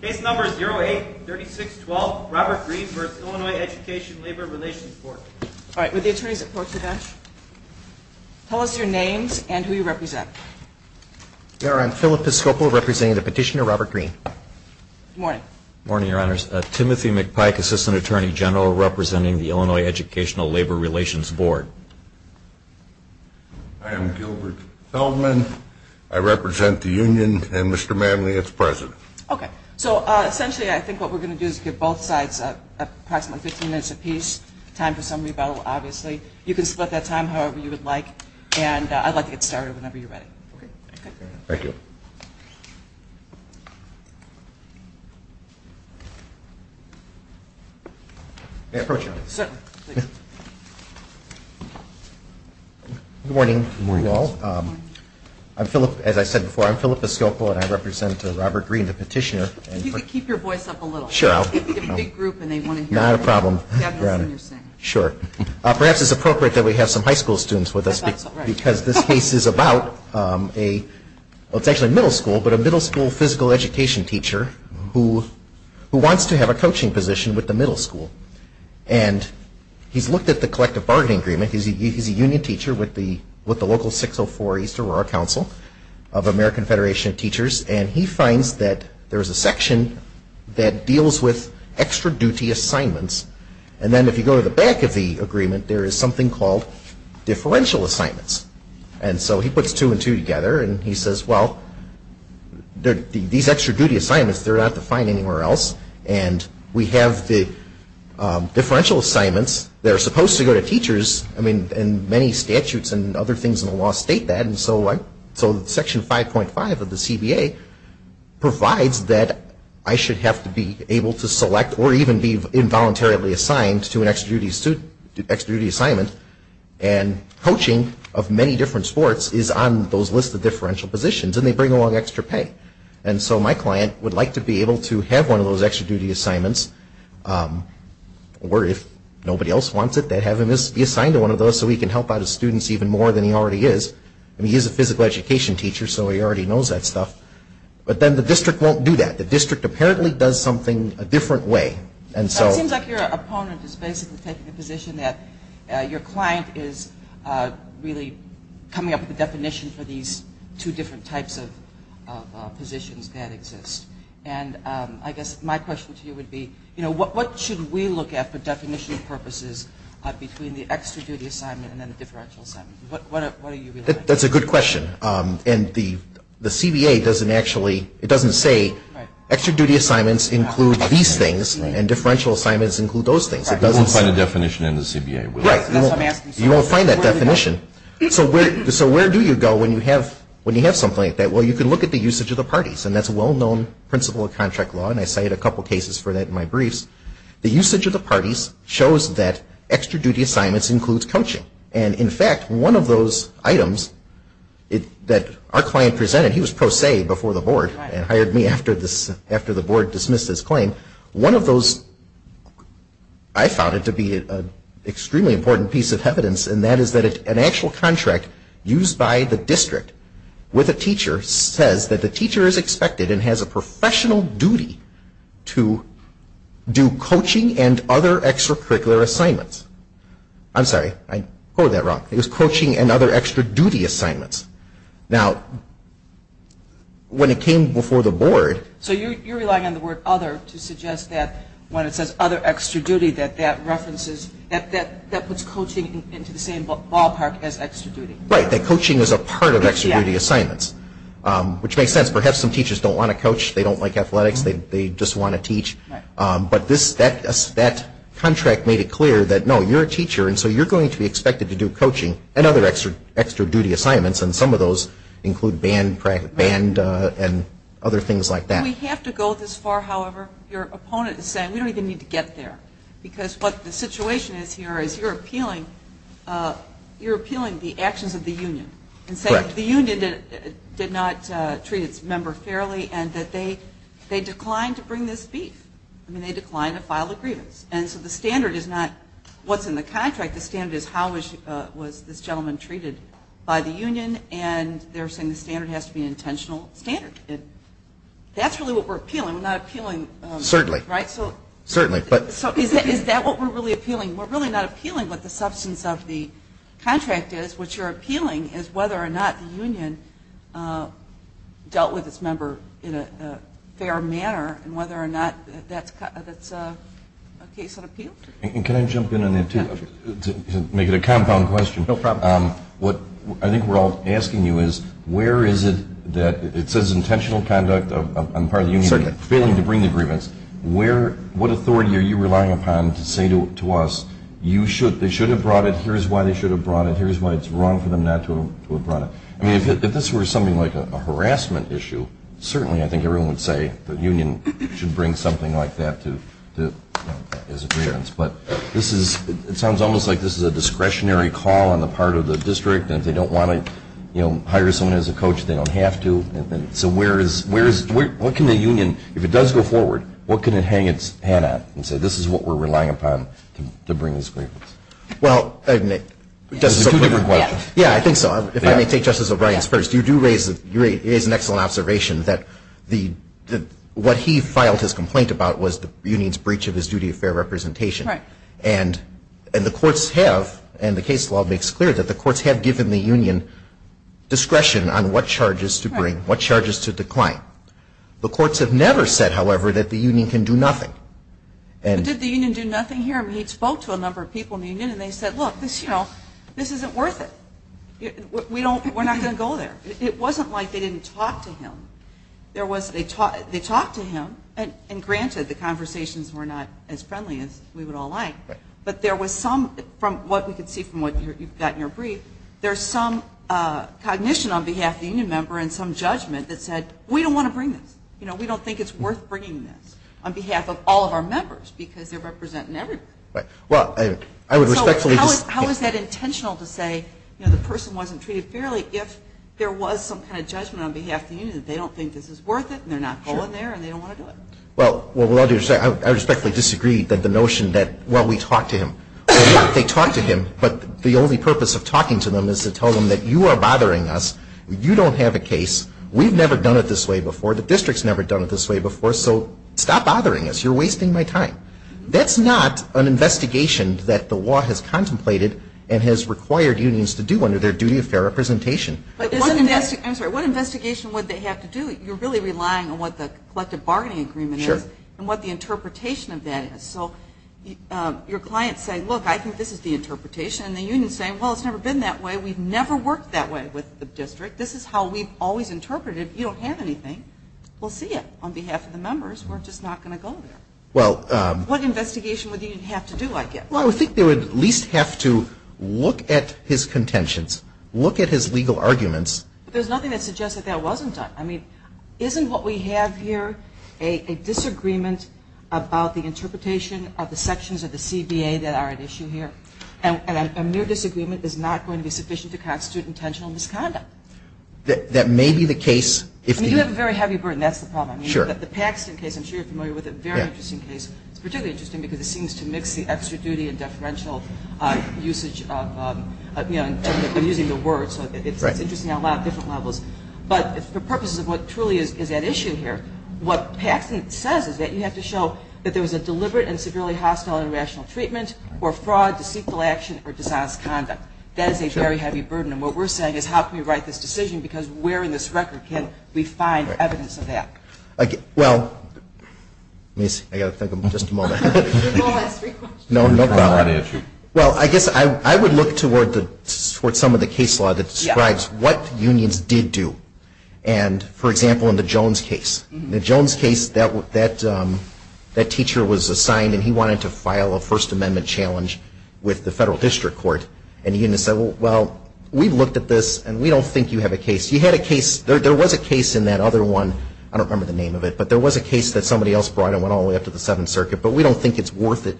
Case number 08-3612, Robert Greene v. Illinois Education Labor Relations Board. All right, would the attorneys approach the bench? Tell us your names and who you represent. I'm Philip Piscopo, representing the petitioner Robert Greene. Good morning. Good morning, Your Honors. Timothy McPike, Assistant Attorney General, representing the Illinois Educational Labor Relations Board. I am Gilbert Feldman. I represent the union, and Mr. Manley is president. Okay. So essentially I think what we're going to do is give both sides approximately 15 minutes apiece, time for some rebuttal, obviously. You can split that time however you would like, and I'd like to get started whenever you're ready. Okay. Thank you. May I approach you? Certainly. Please. Good morning, you all. Good morning. I'm Philip, as I said before, I'm Philip Piscopo, and I represent Robert Greene, the petitioner. If you could keep your voice up a little. Sure. We have a big group, and they want to hear you. Not a problem, Your Honor. That's what you're saying. Sure. Perhaps it's appropriate that we have some high school students with us. I thought so, right. Because this case is about a, well, it's actually a middle school, but a middle school physical education teacher who wants to have a coaching position with the middle school. And he's looked at the collective bargaining agreement. He's a union teacher with the local 604 East Aurora Council of American Federation of Teachers, and he finds that there's a section that deals with extra duty assignments. And then if you go to the back of the agreement, there is something called differential assignments. And so he puts two and two together, and he says, well, these extra duty assignments, they're not defined anywhere else. And we have the differential assignments. They're supposed to go to teachers, and many statutes and other things in the law state that. And so Section 5.5 of the CBA provides that I should have to be able to select or even be involuntarily assigned to an extra duty assignment. And coaching of many different sports is on those lists of differential positions, and they bring along extra pay. And so my client would like to be able to have one of those extra duty assignments, or if nobody else wants it, they have him be assigned to one of those so he can help out his students even more than he already is. I mean, he's a physical education teacher, so he already knows that stuff. But then the district won't do that. The district apparently does something a different way. It seems like your opponent is basically taking the position that your client is really coming up with a definition for these two different types of positions that exist. And I guess my question to you would be, you know, what should we look at for definition purposes between the extra duty assignment and the differential assignment? That's a good question. And the CBA doesn't actually, it doesn't say extra duty assignments include these things and differential assignments include those things. It doesn't say. We won't find a definition in the CBA. Right. That's what I'm asking. You won't find that definition. So where do you go when you have something like that? Well, you can look at the usage of the parties, and that's a well-known principle of contract law, and I cited a couple cases for that in my briefs. The usage of the parties shows that extra duty assignments includes coaching. And in fact, one of those items that our client presented, he was pro se before the board and hired me after the board dismissed his claim. One of those, I found it to be an extremely important piece of evidence, and that is that an actual contract used by the district with a teacher says that the teacher is expected and has a professional duty to do coaching and other extracurricular assignments. I'm sorry. I quoted that wrong. It was coaching and other extra duty assignments. Now, when it came before the board. So you're relying on the word other to suggest that when it says other extra duty, that that puts coaching into the same ballpark as extra duty. Right. That coaching is a part of extra duty assignments, which makes sense. Perhaps some teachers don't want to coach. They don't like athletics. They just want to teach. Right. But that contract made it clear that no, you're a teacher, and so you're going to be expected to do coaching and other extra duty assignments, and some of those include band and other things like that. We have to go this far, however. Your opponent is saying we don't even need to get there because what the situation is here is you're appealing the actions of the union. Correct. And saying the union did not treat its member fairly and that they declined to bring this beef. I mean, they declined to file a grievance. And so the standard is not what's in the contract. The standard is how was this gentleman treated by the union, and they're saying the standard has to be an intentional standard. That's really what we're appealing. We're not appealing. Certainly. Right. Certainly. So is that what we're really appealing? We're really not appealing what the substance of the contract is. What you're appealing is whether or not the union dealt with its member in a fair manner and whether or not that's a case that appealed. And can I jump in on that, too, to make it a compound question? No problem. What I think we're all asking you is where is it that it says intentional conduct on the part of the union failing to bring the grievance. What authority are you relying upon to say to us they should have brought it, here's why they should have brought it, here's why it's wrong for them not to have brought it. I mean, if this were something like a harassment issue, certainly I think everyone would say the union should bring something like that as a grievance. But it sounds almost like this is a discretionary call on the part of the district and they don't want to hire someone as a coach if they don't have to. So what can the union, if it does go forward, what can it hang its hat on and say this is what we're relying upon to bring this grievance? Well, I mean, it's a two different question. Yeah, I think so. If I may take Justice O'Brien's first. You do raise an excellent observation that what he filed his complaint about was the union's breach of his duty of fair representation. And the courts have, and the case law makes clear that the courts have given the union discretion on what charges to bring, what charges to decline. The courts have never said, however, that the union can do nothing. But did the union do nothing here? I mean, he spoke to a number of people in the union and they said, look, this isn't worth it. We're not going to go there. It wasn't like they didn't talk to him. They talked to him, and granted, the conversations were not as friendly as we would all like, but there was some, from what we could see from what you've got in your brief, there's some cognition on behalf of the union member and some judgment that said we don't want to bring this. We don't think it's worth bringing this on behalf of all of our members because they're representing everyone. Well, I would respectfully disagree. So how is that intentional to say the person wasn't treated fairly if there was some kind of judgment on behalf of the union, that they don't think this is worth it and they're not going there and they don't want to do it? Well, I respectfully disagree that the notion that, well, we talked to him. They talked to him, but the only purpose of talking to them is to tell them that you are bothering us. You don't have a case. We've never done it this way before. The district's never done it this way before, so stop bothering us. You're wasting my time. That's not an investigation that the law has contemplated and has required unions to do under their duty of fair representation. I'm sorry, what investigation would they have to do? You're really relying on what the collective bargaining agreement is and what the interpretation of that is. So your clients say, look, I think this is the interpretation, and the union is saying, well, it's never been that way. We've never worked that way with the district. This is how we've always interpreted it. You don't have anything. We'll see it on behalf of the members. We're just not going to go there. What investigation would the union have to do, I guess? Well, I would think they would at least have to look at his contentions, look at his legal arguments. But there's nothing that suggests that that wasn't done. I mean, isn't what we have here a disagreement about the interpretation of the sections of the CBA that are at issue here? And a mere disagreement is not going to be sufficient to constitute intentional misconduct. That may be the case if the union ---- I mean, you have a very heavy burden. That's the problem. I mean, the Paxton case, I'm sure you're familiar with it, a very interesting case. It's particularly interesting because it seems to mix the extra duty and deferential usage of using the word. So it's interesting on a lot of different levels. But for purposes of what truly is at issue here, what Paxton says is that you have to show that there was a deliberate and severely hostile and irrational treatment or fraud, deceitful action, or dishonest conduct. That is a very heavy burden. And what we're saying is how can we right this decision, because where in this record can we find evidence of that? Well, let me see. I've got to think. Just a moment. We've all asked three questions. No problem. Well, I guess I would look toward some of the case law that describes what unions did do. And, for example, in the Jones case. In the Jones case, that teacher was assigned and he wanted to file a First Amendment challenge with the Federal District Court. And he said, well, we've looked at this and we don't think you have a case. You had a case. There was a case in that other one. I don't remember the name of it. But there was a case that somebody else brought and went all the way up to the Seventh Circuit. But we don't think it's worth it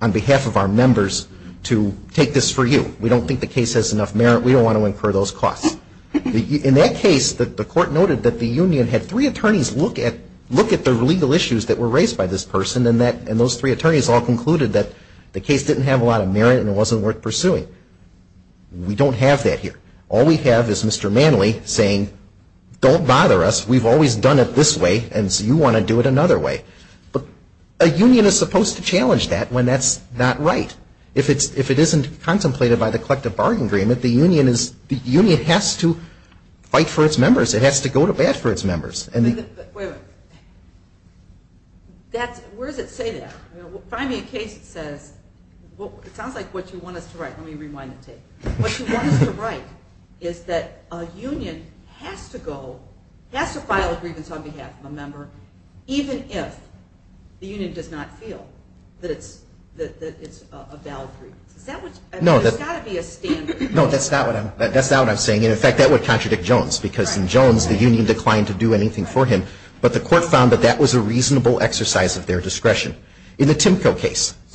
on behalf of our members to take this for you. We don't think the case has enough merit. We don't want to incur those costs. In that case, the court noted that the union had three attorneys look at the legal issues that were raised by this person, and those three attorneys all concluded that the case didn't have a lot of merit and it wasn't worth pursuing. We don't have that here. All we have is Mr. Manley saying, don't bother us. We've always done it this way, and so you want to do it another way. But a union is supposed to challenge that when that's not right. If it isn't contemplated by the Collective Bargain Agreement, the union has to fight for its members. It has to go to bat for its members. Wait a minute. Where does it say that? Find me a case that says, it sounds like what you want us to write. Let me rewind the tape. What you want us to write is that a union has to file a grievance on behalf of a member even if the union does not feel that it's a valid grievance. There's got to be a standard. No, that's not what I'm saying. In fact, that would contradict Jones, because in Jones, the union declined to do anything for him. But the court found that that was a reasonable exercise of their discretion. In the Timko case. It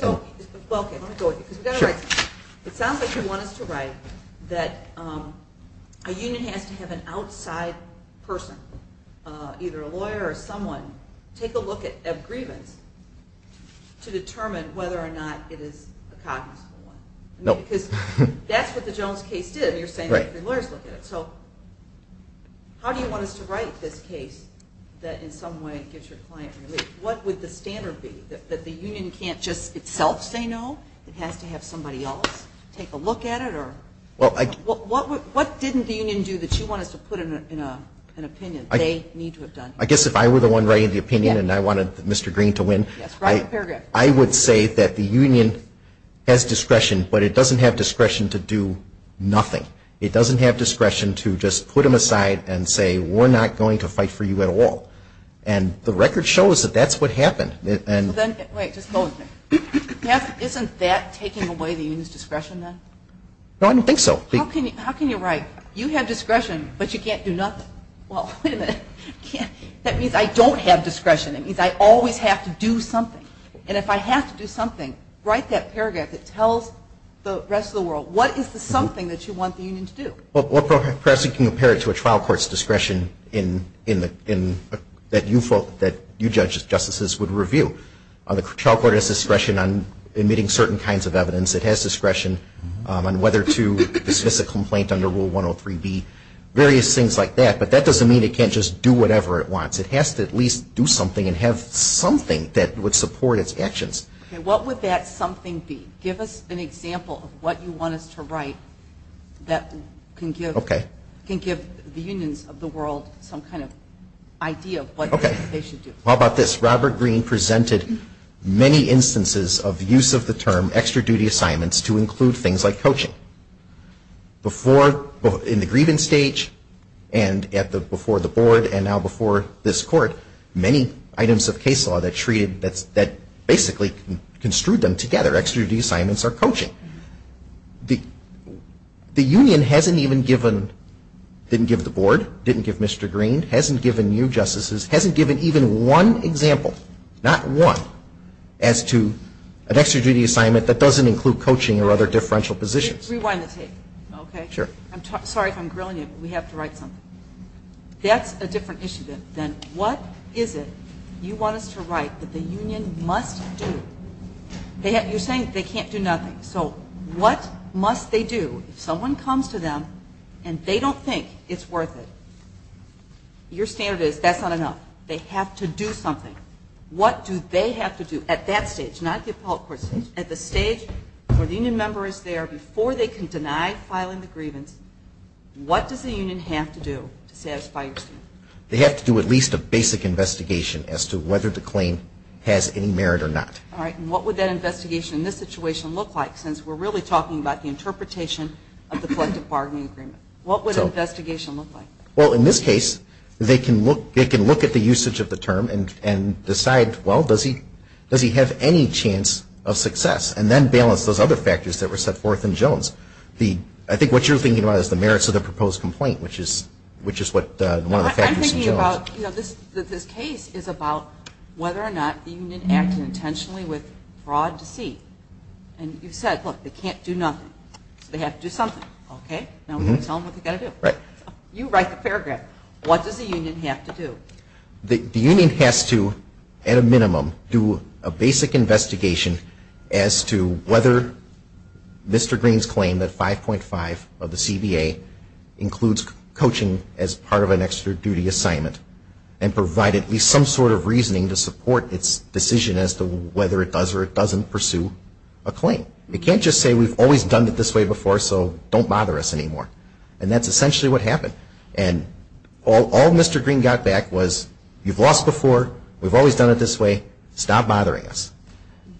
sounds like you want us to write that a union has to have an outside person, either a lawyer or someone, take a look at a grievance to determine whether or not it is a cognizant one. Because that's what the Jones case did. You're saying that the lawyers look at it. So how do you want us to write this case that in some way gives your client relief? What would the standard be? That the union can't just itself say no? It has to have somebody else take a look at it? What didn't the union do that you want us to put in an opinion? They need to have done it. I guess if I were the one writing the opinion and I wanted Mr. Green to win, I would say that the union has discretion, but it doesn't have discretion to do nothing. It doesn't have discretion to just put him aside and say, we're not going to fight for you at all. And the record shows that that's what happened. Isn't that taking away the union's discretion then? No, I don't think so. How can you write, you have discretion, but you can't do nothing? Well, wait a minute. That means I don't have discretion. It means I always have to do something. And if I have to do something, write that paragraph that tells the rest of the world, what is the something that you want the union to do? Well, perhaps you can compare it to a trial court's discretion that you judges, justices would review. The trial court has discretion on admitting certain kinds of evidence. It has discretion on whether to dismiss a complaint under Rule 103B, various things like that. But that doesn't mean it can't just do whatever it wants. It has to at least do something and have something that would support its actions. Okay, what would that something be? Give us an example of what you want us to write that can give the unions of the world some kind of idea of what they should do. How about this? Robert Greene presented many instances of use of the term extra-duty assignments to include things like coaching. In the grievance stage and before the board and now before this court, many items of case law that basically construed them together, extra-duty assignments or coaching. The union hasn't even given, didn't give the board, didn't give Mr. Greene, hasn't given you justices, hasn't given even one example, not one, as to an extra-duty assignment that doesn't include coaching or other differential positions. Rewind the tape, okay? Sure. I'm sorry if I'm grilling you, but we have to write something. That's a different issue than what is it you want us to write that the union must do. You're saying they can't do nothing. So what must they do if someone comes to them and they don't think it's worth it? Your standard is that's not enough. They have to do something. What do they have to do at that stage, not at the appellate court stage, at the stage where the union member is there before they can deny filing the grievance, what does the union have to do to satisfy your standard? They have to do at least a basic investigation as to whether the claim has any merit or not. All right. And what would that investigation in this situation look like, since we're really talking about the interpretation of the collective bargaining agreement? What would the investigation look like? Well, in this case, they can look at the usage of the term and decide, well, does he have any chance of success, and then balance those other factors that were set forth in Jones. I think what you're thinking about is the merits of the proposed complaint, which is one of the factors in Jones. I'm thinking about this case is about whether or not the union acted intentionally with fraud, deceit. And you said, look, they can't do nothing. They have to do something. Okay. Now tell them what they've got to do. Right. You write the paragraph. What does the union have to do? The union has to, at a minimum, do a basic investigation as to whether Mr. Green's claim that 5.5 of the CBA includes coaching as part of an extra duty assignment and provide at least some sort of reasoning to support its decision as to whether it does or it doesn't pursue a claim. It can't just say, we've always done it this way before, so don't bother us anymore. And that's essentially what happened. And all Mr. Green got back was, you've lost before, we've always done it this way, stop bothering us.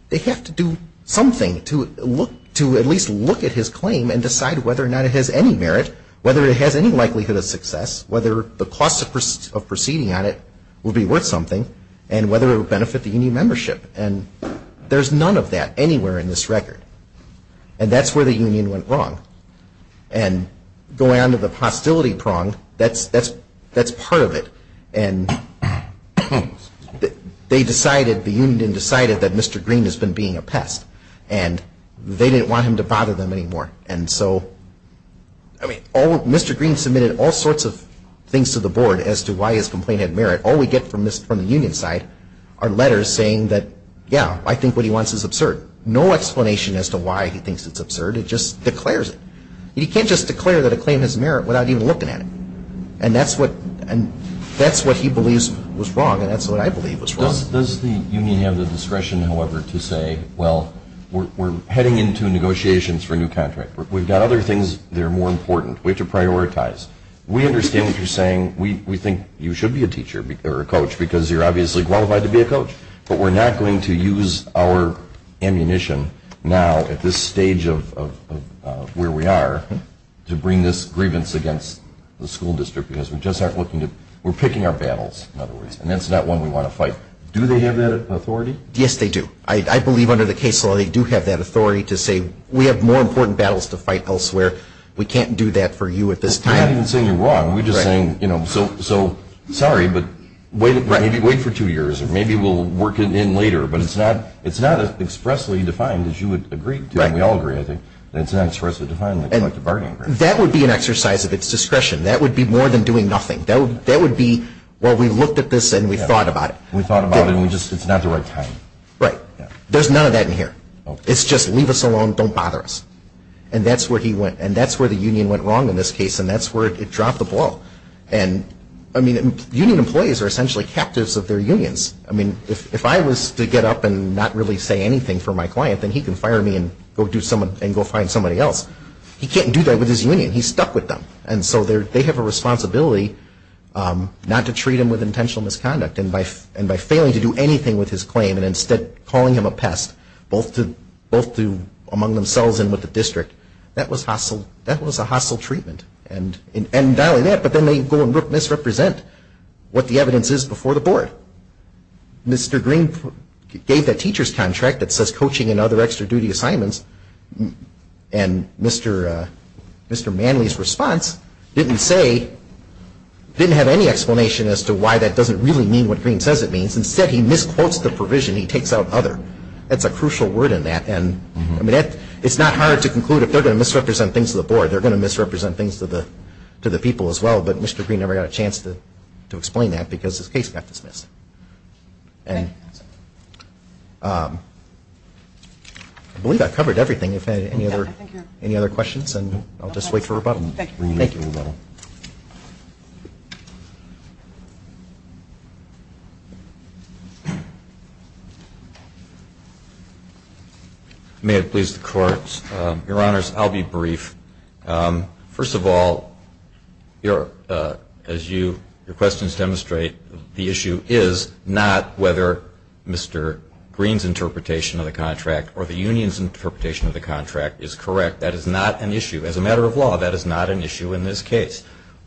They have to do something to at least look at his claim and decide whether or not it has any merit, whether it has any likelihood of success, whether the cost of proceeding on it will be worth something, and whether it will benefit the union membership. And there's none of that anywhere in this record. And that's where the union went wrong. And going on to the hostility prong, that's part of it. And they decided, the union decided that Mr. Green has been being a pest. And they didn't want him to bother them anymore. And so, I mean, Mr. Green submitted all sorts of things to the board as to why his complaint had merit. All we get from the union side are letters saying that, yeah, I think what he wants is absurd. No explanation as to why he thinks it's absurd. It just declares it. He can't just declare that a claim has merit without even looking at it. And that's what he believes was wrong, and that's what I believe was wrong. Does the union have the discretion, however, to say, well, we're heading into negotiations for a new contract. We've got other things that are more important. We have to prioritize. We understand what you're saying. We think you should be a teacher or a coach because you're obviously qualified to be a coach. But we're not going to use our ammunition now at this stage of where we are to bring this grievance against the school district because we're picking our battles, in other words. And that's not one we want to fight. Do they have that authority? Yes, they do. I believe under the case law they do have that authority to say, we have more important battles to fight elsewhere. We can't do that for you at this time. We're not even saying you're wrong. We're just saying, sorry, but maybe wait for two years, or maybe we'll work it in later. But it's not as expressly defined as you would agree to. We all agree, I think, that it's not expressly defined like a bargaining agreement. That would be an exercise of its discretion. That would be more than doing nothing. That would be, well, we looked at this and we thought about it. We thought about it, and it's not the right time. Right. There's none of that in here. It's just leave us alone, don't bother us. And that's where the union went wrong in this case, and that's where it dropped the ball. And, I mean, union employees are essentially captives of their unions. I mean, if I was to get up and not really say anything for my client, then he can fire me and go find somebody else. He can't do that with his union. He's stuck with them. And so they have a responsibility not to treat him with intentional misconduct. And by failing to do anything with his claim, and instead calling him a pest both among themselves and with the district, that was a hostile treatment. And not only that, but then they go and misrepresent what the evidence is before the board. Mr. Green gave that teacher's contract that says coaching and other extra duty assignments, and Mr. Manley's response didn't say, didn't have any explanation as to why that doesn't really mean what Green says it means. Instead, he misquotes the provision. He takes out other. That's a crucial word in that. It's not hard to conclude if they're going to misrepresent things to the board, they're going to misrepresent things to the people as well. But Mr. Green never got a chance to explain that because his case got dismissed. I believe I've covered everything. If you have any other questions, I'll just wait for rebuttal. Thank you. May it please the Court, Your Honors, I'll be brief. First of all, as your questions demonstrate, the issue is not whether Mr. Green's interpretation of the contract or the union's interpretation of the contract is correct. That is not an issue. As a matter of law, that is not an issue in this case.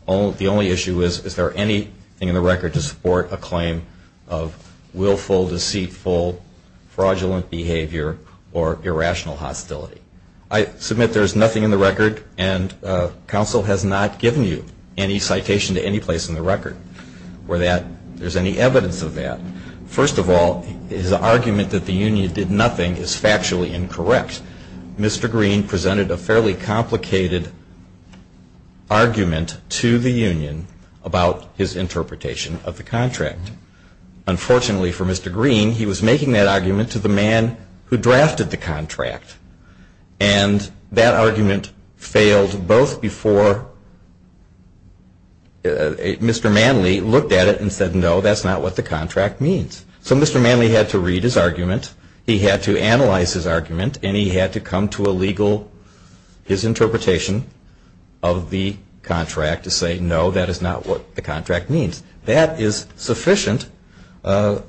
The only issue is, is there anything in the record to support a claim of willful, deceitful, fraudulent behavior, or irrational hostility. I submit there's nothing in the record, and counsel has not given you any citation to any place in the record where there's any evidence of that. First of all, his argument that the union did nothing is factually incorrect. Mr. Green presented a fairly complicated argument to the union about his interpretation of the contract. And unfortunately for Mr. Green, he was making that argument to the man who drafted the contract. And that argument failed both before Mr. Manley looked at it and said, no, that's not what the contract means. So Mr. Manley had to read his argument, he had to analyze his argument, and he had to come to a legal, his interpretation of the contract to say, no, that is not what the contract means. That is sufficient under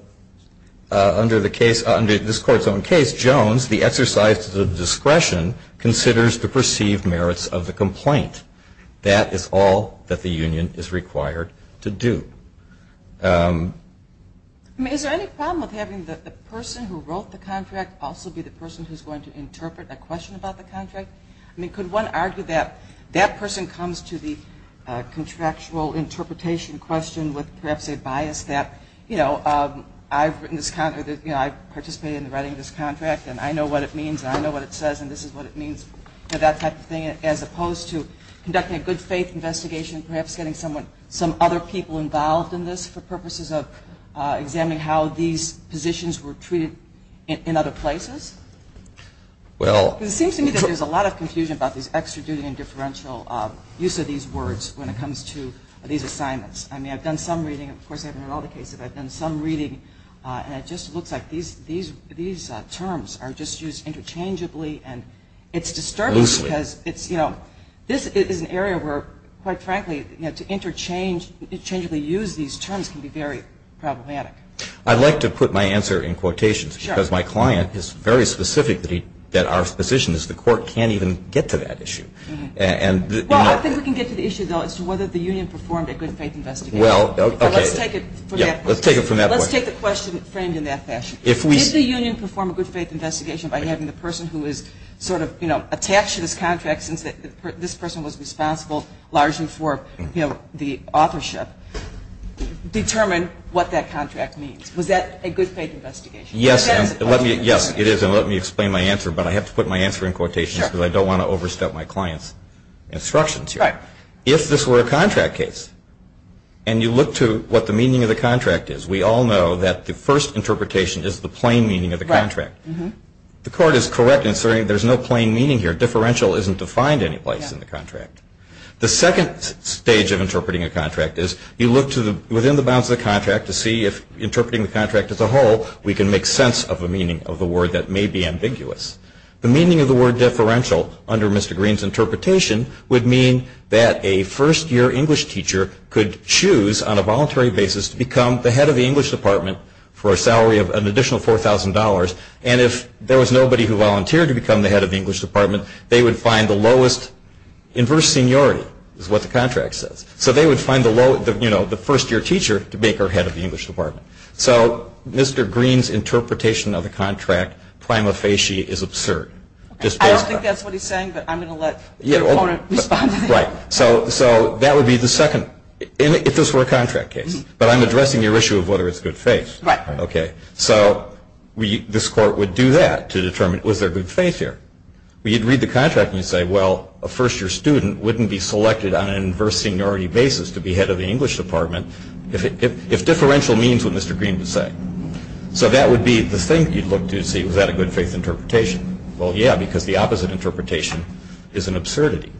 the case, under this Court's own case. Jones, the exercise of discretion, considers the perceived merits of the complaint. That is all that the union is required to do. I mean, is there any problem with having the person who wrote the contract also be the person who's going to interpret a question about the contract? I mean, could one argue that that person comes to the contractual interpretation question with perhaps a bias that, you know, I've participated in the writing of this contract and I know what it means and I know what it says and this is what it means for that type of thing, as opposed to conducting a good faith investigation and perhaps getting some other people involved in this for purposes of examining how these positions were treated in other places? Well... It seems to me that there's a lot of confusion about this extra duty and differential use of these words when it comes to these assignments. I mean, I've done some reading. Of course, I haven't read all the cases, but I've done some reading and it just looks like these terms are just used interchangeably and it's disturbing because it's, you know, this is an area where, quite frankly, to interchangeably use these terms can be very problematic. I'd like to put my answer in quotations because my client is very specific that our position is the court can't even get to that issue. Well, I think we can get to the issue, though, as to whether the union performed a good faith investigation. Well, okay. Let's take it from that point. Let's take it from that point. Let's take the question framed in that fashion. Did the union perform a good faith investigation by having the person who is sort of, you know, attached to this contract since this person was responsible largely for, you know, the authorship determine what that contract means? Was that a good faith investigation? Yes, it is, and let me explain my answer, but I have to put my answer in quotations because I don't want to overstep my client's instructions here. If this were a contract case and you look to what the meaning of the contract is, we all know that the first interpretation is the plain meaning of the contract. The court is correct in asserting there's no plain meaning here. Differential isn't defined any place in the contract. The second stage of interpreting a contract is you look to within the bounds of the contract to see if interpreting the contract as a whole, we can make sense of the meaning of the word that may be ambiguous. The meaning of the word differential under Mr. Green's interpretation would mean that a first-year English teacher could choose on a voluntary basis to become the head of the English department for a salary of an additional $4,000, and if there was nobody who volunteered to become the head of the English department, they would find the lowest inverse seniority is what the contract says. So they would find the first-year teacher to make her head of the English department. So Mr. Green's interpretation of the contract prima facie is absurd. I don't think that's what he's saying, but I'm going to let the opponent respond to that. Right. So that would be the second, if this were a contract case, but I'm addressing your issue of whether it's good faith. Right. Okay. So this court would do that to determine was there good faith here. You'd read the contract and you'd say, well, a first-year student wouldn't be selected on an inverse seniority basis to be head of the English department if differential means what Mr. Green would say. So that would be the thing you'd look to to see was that a good faith interpretation. Well, yeah, because the opposite interpretation is an absurdity.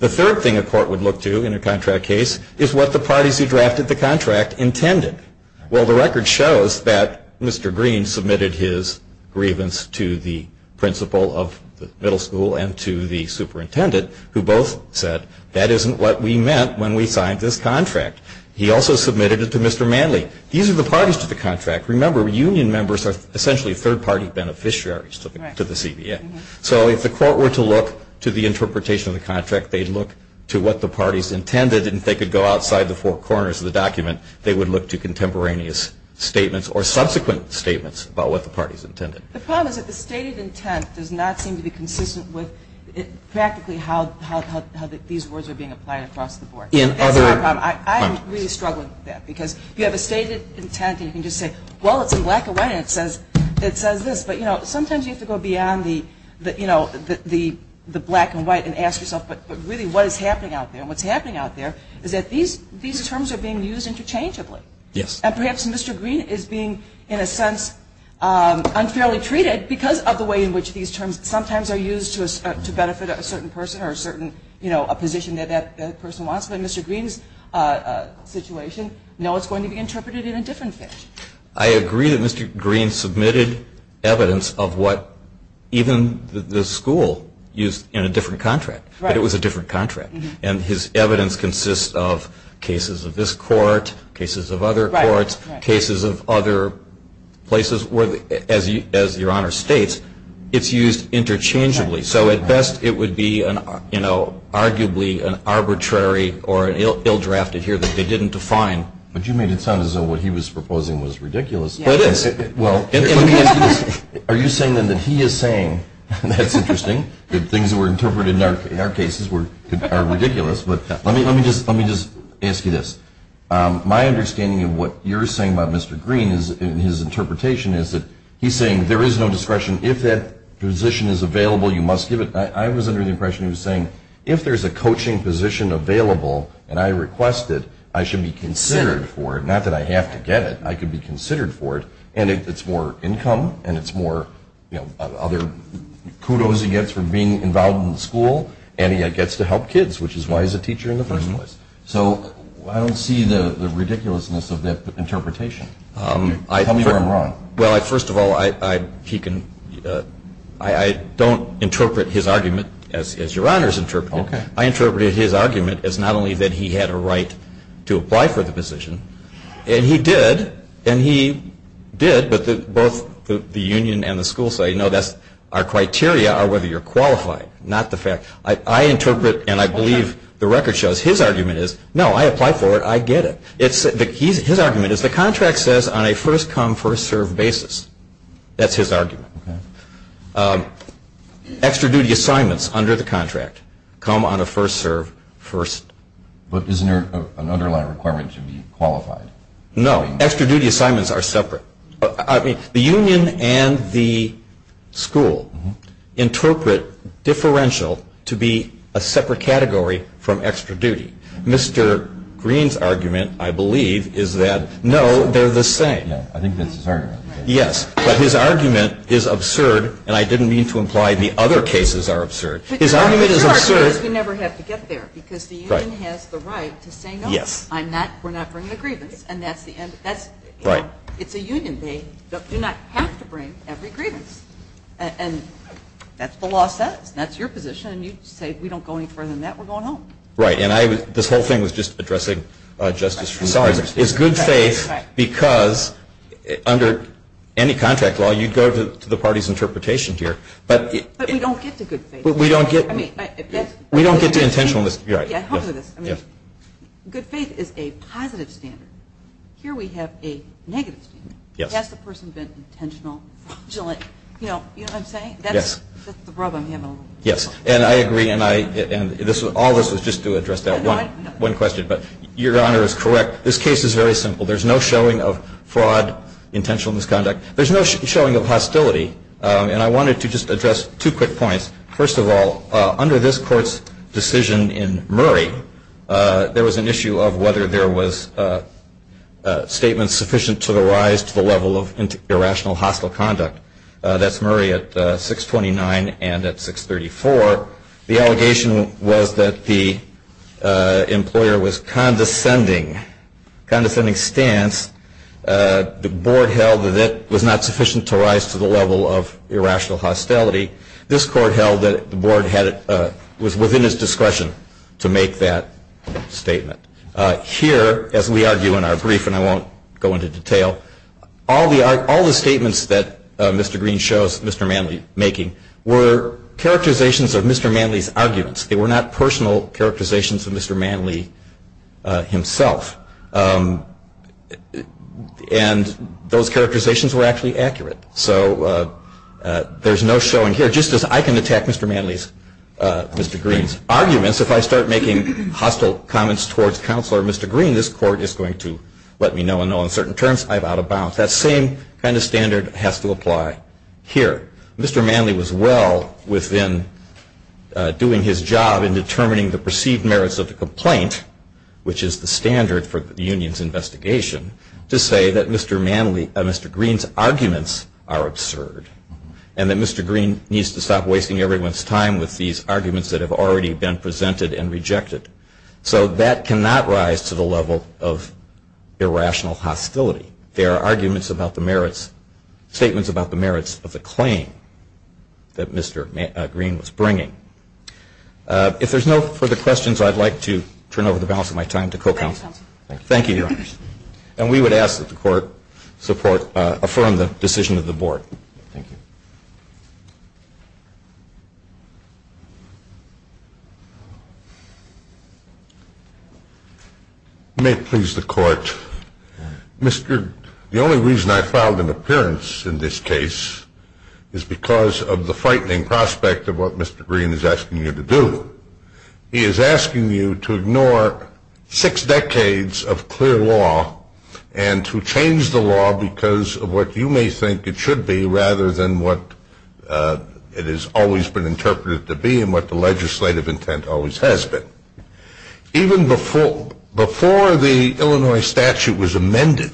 The third thing a court would look to in a contract case is what the parties who drafted the contract intended. Well, the record shows that Mr. Green submitted his grievance to the principal of the middle school and to the superintendent who both said that isn't what we meant when we signed this contract. He also submitted it to Mr. Manley. These are the parties to the contract. Remember, union members are essentially third-party beneficiaries to the CBA. So if the court were to look to the interpretation of the contract, they'd look to what the parties intended, and if they could go outside the four corners of the document, they would look to contemporaneous statements or subsequent statements about what the parties intended. The problem is that the stated intent does not seem to be consistent with practically how these words are being applied across the board. That's my problem. I'm really struggling with that because you have a stated intent, and you can just say, well, it's in black and white, and it says this. But, you know, sometimes you have to go beyond the black and white and ask yourself, but really what is happening out there, and what's happening out there, is that these terms are being used interchangeably. Yes. And perhaps Mr. Green is being, in a sense, unfairly treated because of the way in which these terms sometimes are used to benefit a certain person or a certain position that that person wants. But Mr. Green's situation, no, it's going to be interpreted in a different fashion. I agree that Mr. Green submitted evidence of what even the school used in a different contract, but it was a different contract. And his evidence consists of cases of this court, cases of other courts, cases of other places, where, as Your Honor states, it's used interchangeably. So at best it would be, you know, arguably an arbitrary or ill-drafted here that they didn't define. But you made it sound as though what he was proposing was ridiculous. It is. Are you saying then that he is saying, that's interesting, that things that were interpreted in our cases are ridiculous. But let me just ask you this. My understanding of what you're saying about Mr. Green in his interpretation is that he's saying there is no discretion. If that position is available, you must give it. I was under the impression he was saying, if there's a coaching position available and I request it, I should be considered for it, not that I have to get it. I could be considered for it. And it's more income, and it's more, you know, other kudos he gets for being involved in the school, and he gets to help kids, which is why he's a teacher in the first place. So I don't see the ridiculousness of that interpretation. Tell me where I'm wrong. Well, first of all, I don't interpret his argument as Your Honor's interpreted. I interpreted his argument as not only that he had a right to apply for the position, and he did, and he did, but both the union and the school say, no, that's our criteria are whether you're qualified, not the fact. I interpret and I believe the record shows his argument is, no, I applied for it, I get it. His argument is the contract says on a first-come, first-served basis. That's his argument. Extra duty assignments under the contract come on a first-serve, first. But isn't there an underlying requirement to be qualified? No. Extra duty assignments are separate. The union and the school interpret differential to be a separate category from extra duty. Mr. Green's argument, I believe, is that, no, they're the same. Yeah, I think that's his argument. Yes, but his argument is absurd, and I didn't mean to imply the other cases are absurd. His argument is absurd. Because we never have to get there, because the union has the right to say, no, I'm not, we're not bringing a grievance, and that's the end. Right. It's a union. They do not have to bring every grievance, and that's what the law says. That's your position, and you say we don't go any further than that. We're going home. Right, and I was, this whole thing was just addressing Justice Schreiber. Sorry. It's good faith because under any contract law, you'd go to the party's interpretation here. But we don't get to good faith. We don't get to intentional misconduct. I mean, good faith is a positive standard. Here we have a negative standard. Has the person been intentional fraudulent? You know what I'm saying? Yes. That's the rub I'm having. Yes, and I agree, and all this was just to address that one question. But Your Honor is correct. This case is very simple. There's no showing of fraud, intentional misconduct. There's no showing of hostility, and I wanted to just address two quick points. First of all, under this court's decision in Murray, there was an issue of whether there was a statement sufficient to the rise to the level of irrational hostile conduct. That's Murray at 629 and at 634. The allegation was that the employer was condescending, condescending stance. The board held that that was not sufficient to rise to the level of irrational hostility. This court held that the board was within its discretion to make that statement. Here, as we argue in our brief, and I won't go into detail, all the statements that Mr. Green shows Mr. Manley making were characterizations of Mr. Manley's arguments. They were not personal characterizations of Mr. Manley himself, and those characterizations were actually accurate. So there's no showing here. Just as I can attack Mr. Manley's, Mr. Green's arguments, if I start making hostile comments towards Counselor Mr. Green, this court is going to let me know, and on certain terms, I'm out of bounds. That same kind of standard has to apply here. Mr. Manley was well within doing his job in determining the perceived merits of the complaint, which is the standard for the union's investigation, to say that Mr. Green's arguments are absurd and that Mr. Green needs to stop wasting everyone's time with these arguments that have already been presented and rejected. So that cannot rise to the level of irrational hostility. There are arguments about the merits, statements about the merits of the claim that Mr. Green was bringing. If there's no further questions, I'd like to turn over the balance of my time to Co-Counsel. Thank you. Thank you, Your Honors. And we would ask that the Court support, affirm the decision of the Board. Thank you. You may please the Court. Mr. Green, the only reason I filed an appearance in this case is because of the frightening prospect of what Mr. Green is asking you to do. He is asking you to ignore six decades of clear law and to change the law because of what you may think it should be rather than what it has always been interpreted to be and what the legislative intent always has been. Even before the Illinois statute was amended,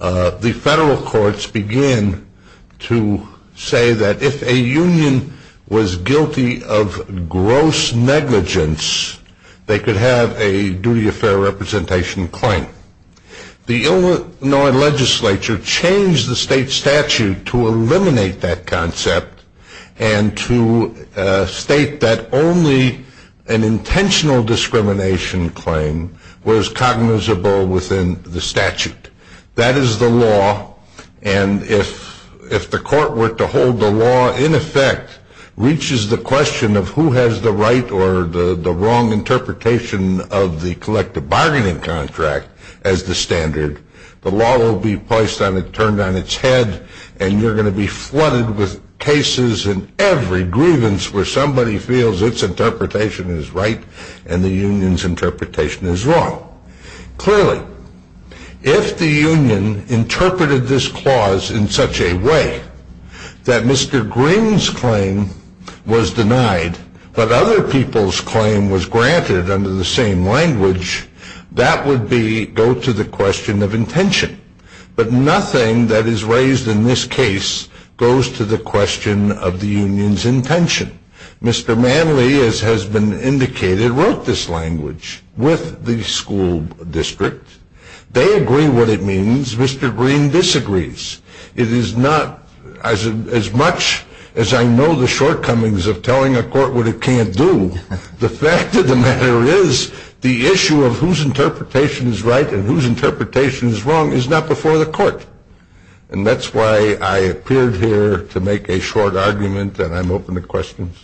the federal courts began to say that if a union was guilty of gross negligence, they could have a duty of fair representation claim. The Illinois legislature changed the state statute to eliminate that concept and to state that only an intentional discrimination claim was cognizable within the statute. That is the law, and if the court were to hold the law in effect, reaches the question of who has the right or the wrong interpretation of the collective bargaining contract as the standard, the law will be turned on its head and you're going to be flooded with cases and every grievance where somebody feels its interpretation is right and the union's interpretation is wrong. Clearly, if the union interpreted this clause in such a way that Mr. Green's claim was denied but other people's claim was granted under the same language, that would go to the question of intention. But nothing that is raised in this case goes to the question of the union's intention. Mr. Manley, as has been indicated, wrote this language with the school district. They agree what it means. Mr. Green disagrees. It is not, as much as I know the shortcomings of telling a court what it can't do, the fact of the matter is the issue of whose interpretation is right and whose interpretation is wrong is not before the court. And that's why I appeared here to make a short argument, and I'm open to questions.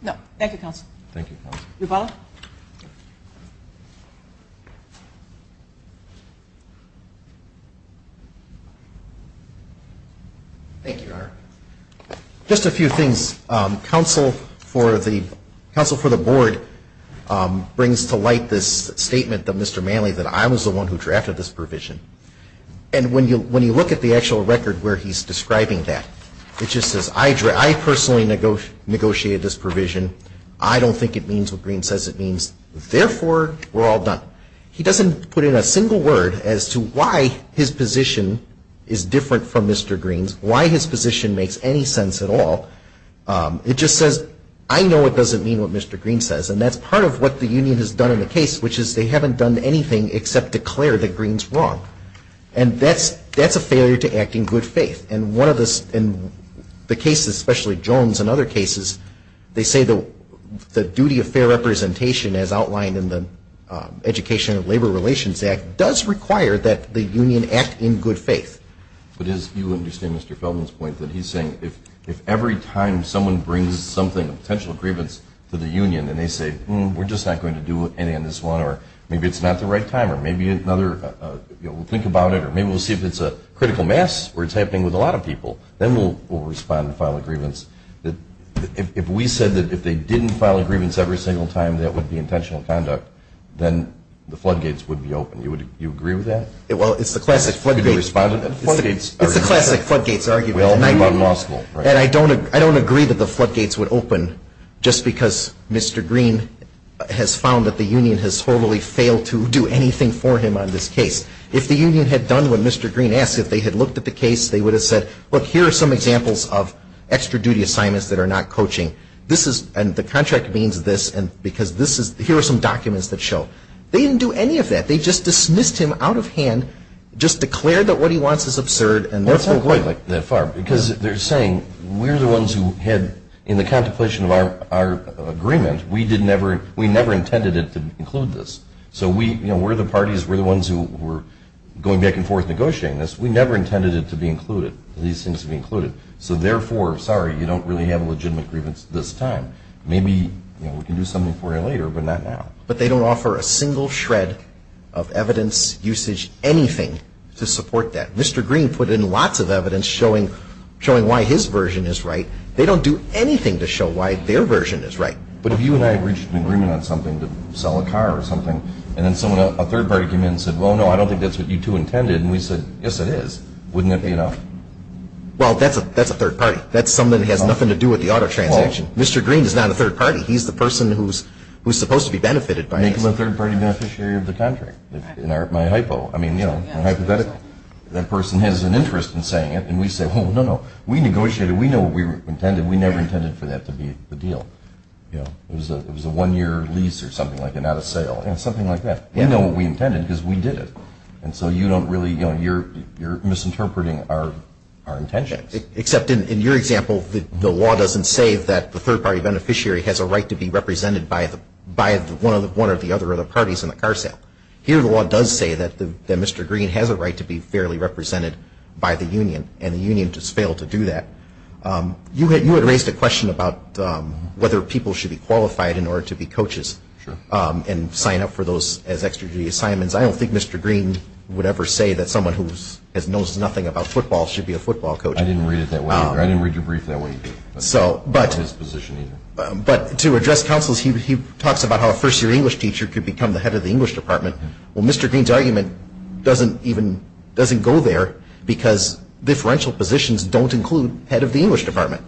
No. Thank you, Counsel. Thank you, Counsel. You're welcome. Thank you, Your Honor. Just a few things. Counsel for the Board brings to light this statement that Mr. Manley, that I was the one who drafted this provision. And when you look at the actual record where he's describing that, it just says, I personally negotiated this provision. I don't think it means what Green says it means. Therefore, we're all done. He doesn't put in a single word as to why his position is different from Mr. Green's, why his position makes any sense at all. It just says, I know it doesn't mean what Mr. Green says, and that's part of what the union has done in the case, which is they haven't done anything except declare that Green's wrong. And that's a failure to act in good faith. And one of the cases, especially Jones and other cases, they say the duty of fair representation, as outlined in the Education and Labor Relations Act, does require that the union act in good faith. But as you understand Mr. Feldman's point, that he's saying if every time someone brings something, a potential grievance to the union, and they say, hmm, we're just not going to do any on this one, or maybe it's not the right time, or maybe another, you know, we'll think about it, maybe we'll see if it's a critical mass or it's happening with a lot of people, then we'll respond and file a grievance. If we said that if they didn't file a grievance every single time, that would be intentional conduct, then the floodgates would be open. Do you agree with that? Well, it's the classic floodgates argument. It's the classic floodgates argument. And I don't agree that the floodgates would open just because Mr. Green has found that the union has totally failed to do anything for him on this case. If the union had done what Mr. Green asked, if they had looked at the case, they would have said, look, here are some examples of extra duty assignments that are not coaching. This is, and the contract means this, and because this is, here are some documents that show. They didn't do any of that. They just dismissed him out of hand, just declared that what he wants is absurd, and that's it. That's not quite that far. Because they're saying we're the ones who had, in the contemplation of our agreement, we did never, we never intended to include this. So we, you know, we're the parties, we're the ones who were going back and forth negotiating this. We never intended it to be included. At least it seems to be included. So therefore, sorry, you don't really have a legitimate grievance at this time. Maybe we can do something for you later, but not now. But they don't offer a single shred of evidence, usage, anything to support that. Mr. Green put in lots of evidence showing why his version is right. They don't do anything to show why their version is right. But if you and I reached an agreement on something, to sell a car or something, and then a third party came in and said, well, no, I don't think that's what you two intended, and we said, yes, it is, wouldn't that be enough? Well, that's a third party. That's somebody that has nothing to do with the auto transaction. Mr. Green is not a third party. He's the person who's supposed to be benefited by this. Make him a third-party beneficiary of the contract, in my hypo. I mean, you know, hypothetically. That person has an interest in saying it, and we say, oh, no, no, we negotiated. We know what we intended. We never intended for that to be the deal. It was a one-year lease or something like that, not a sale, something like that. We know what we intended because we did it. And so you don't really, you know, you're misinterpreting our intentions. Except in your example, the law doesn't say that the third-party beneficiary has a right to be represented by one of the other parties in the car sale. Here the law does say that Mr. Green has a right to be fairly represented by the union, and the union just failed to do that. You had raised a question about whether people should be qualified in order to be coaches and sign up for those as extra duty assignments. I don't think Mr. Green would ever say that someone who knows nothing about football should be a football coach. I didn't read it that way. I didn't read your brief that way either. But to address counsels, he talks about how a first-year English teacher could become the head of the English department. Well, Mr. Green's argument doesn't go there because differential positions don't include head of the English department.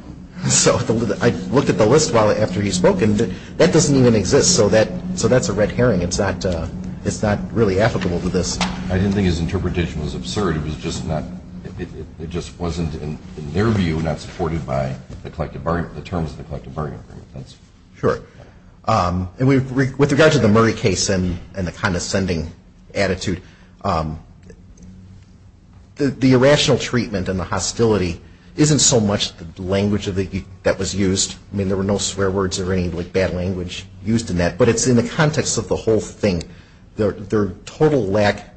So I looked at the list after he spoke, and that doesn't even exist. So that's a red herring. It's not really applicable to this. I didn't think his interpretation was absurd. It just wasn't, in their view, not supported by the terms of the collective bargaining agreement. Sure. And with regard to the Murray case and the condescending attitude, the irrational treatment and the hostility isn't so much the language that was used. I mean, there were no swear words or any bad language used in that. But it's in the context of the whole thing, their total lack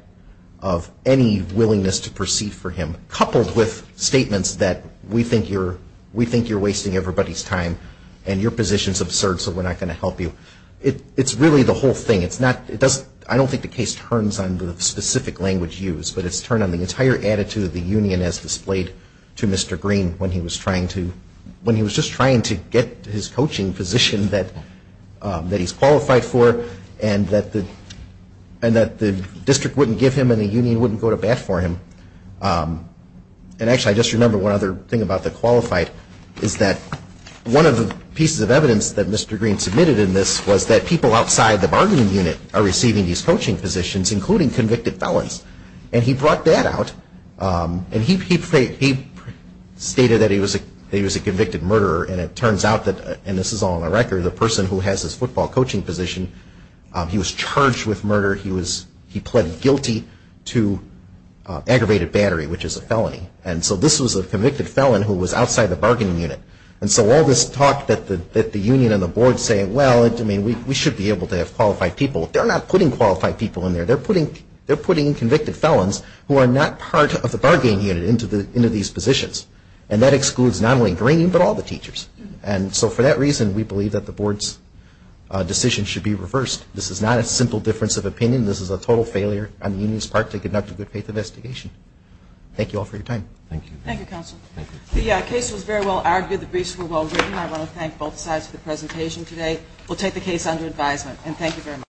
of any willingness to proceed for him, coupled with statements that we think you're wasting everybody's time and your position's absurd, so we're not going to help you. It's really the whole thing. I don't think the case turns on the specific language used, but it's turned on the entire attitude of the union as displayed to Mr. Green when he was just trying to get his coaching position that he's qualified for and that the district wouldn't give him and the union wouldn't go to bat for him. And actually, I just remembered one other thing about the qualified, is that one of the pieces of evidence that Mr. Green submitted in this was that people outside the bargaining unit are receiving these coaching positions, including convicted felons. And he brought that out. And he stated that he was a convicted murderer, and it turns out that, and this is all on the record, the person who has this football coaching position, he was charged with murder. He pleaded guilty to aggravated battery, which is a felony. And so this was a convicted felon who was outside the bargaining unit. And so all this talk that the union and the board say, well, we should be able to have qualified people, they're not putting qualified people in there. They're putting convicted felons who are not part of the bargaining unit into these positions. And that excludes not only Green, but all the teachers. And so for that reason, we believe that the board's decision should be reversed. This is not a simple difference of opinion. This is a total failure on the union's part to conduct a good faith investigation. Thank you all for your time. Thank you. Thank you, counsel. The case was very well argued. The briefs were well written. I want to thank both sides for the presentation today. We'll take the case under advisement.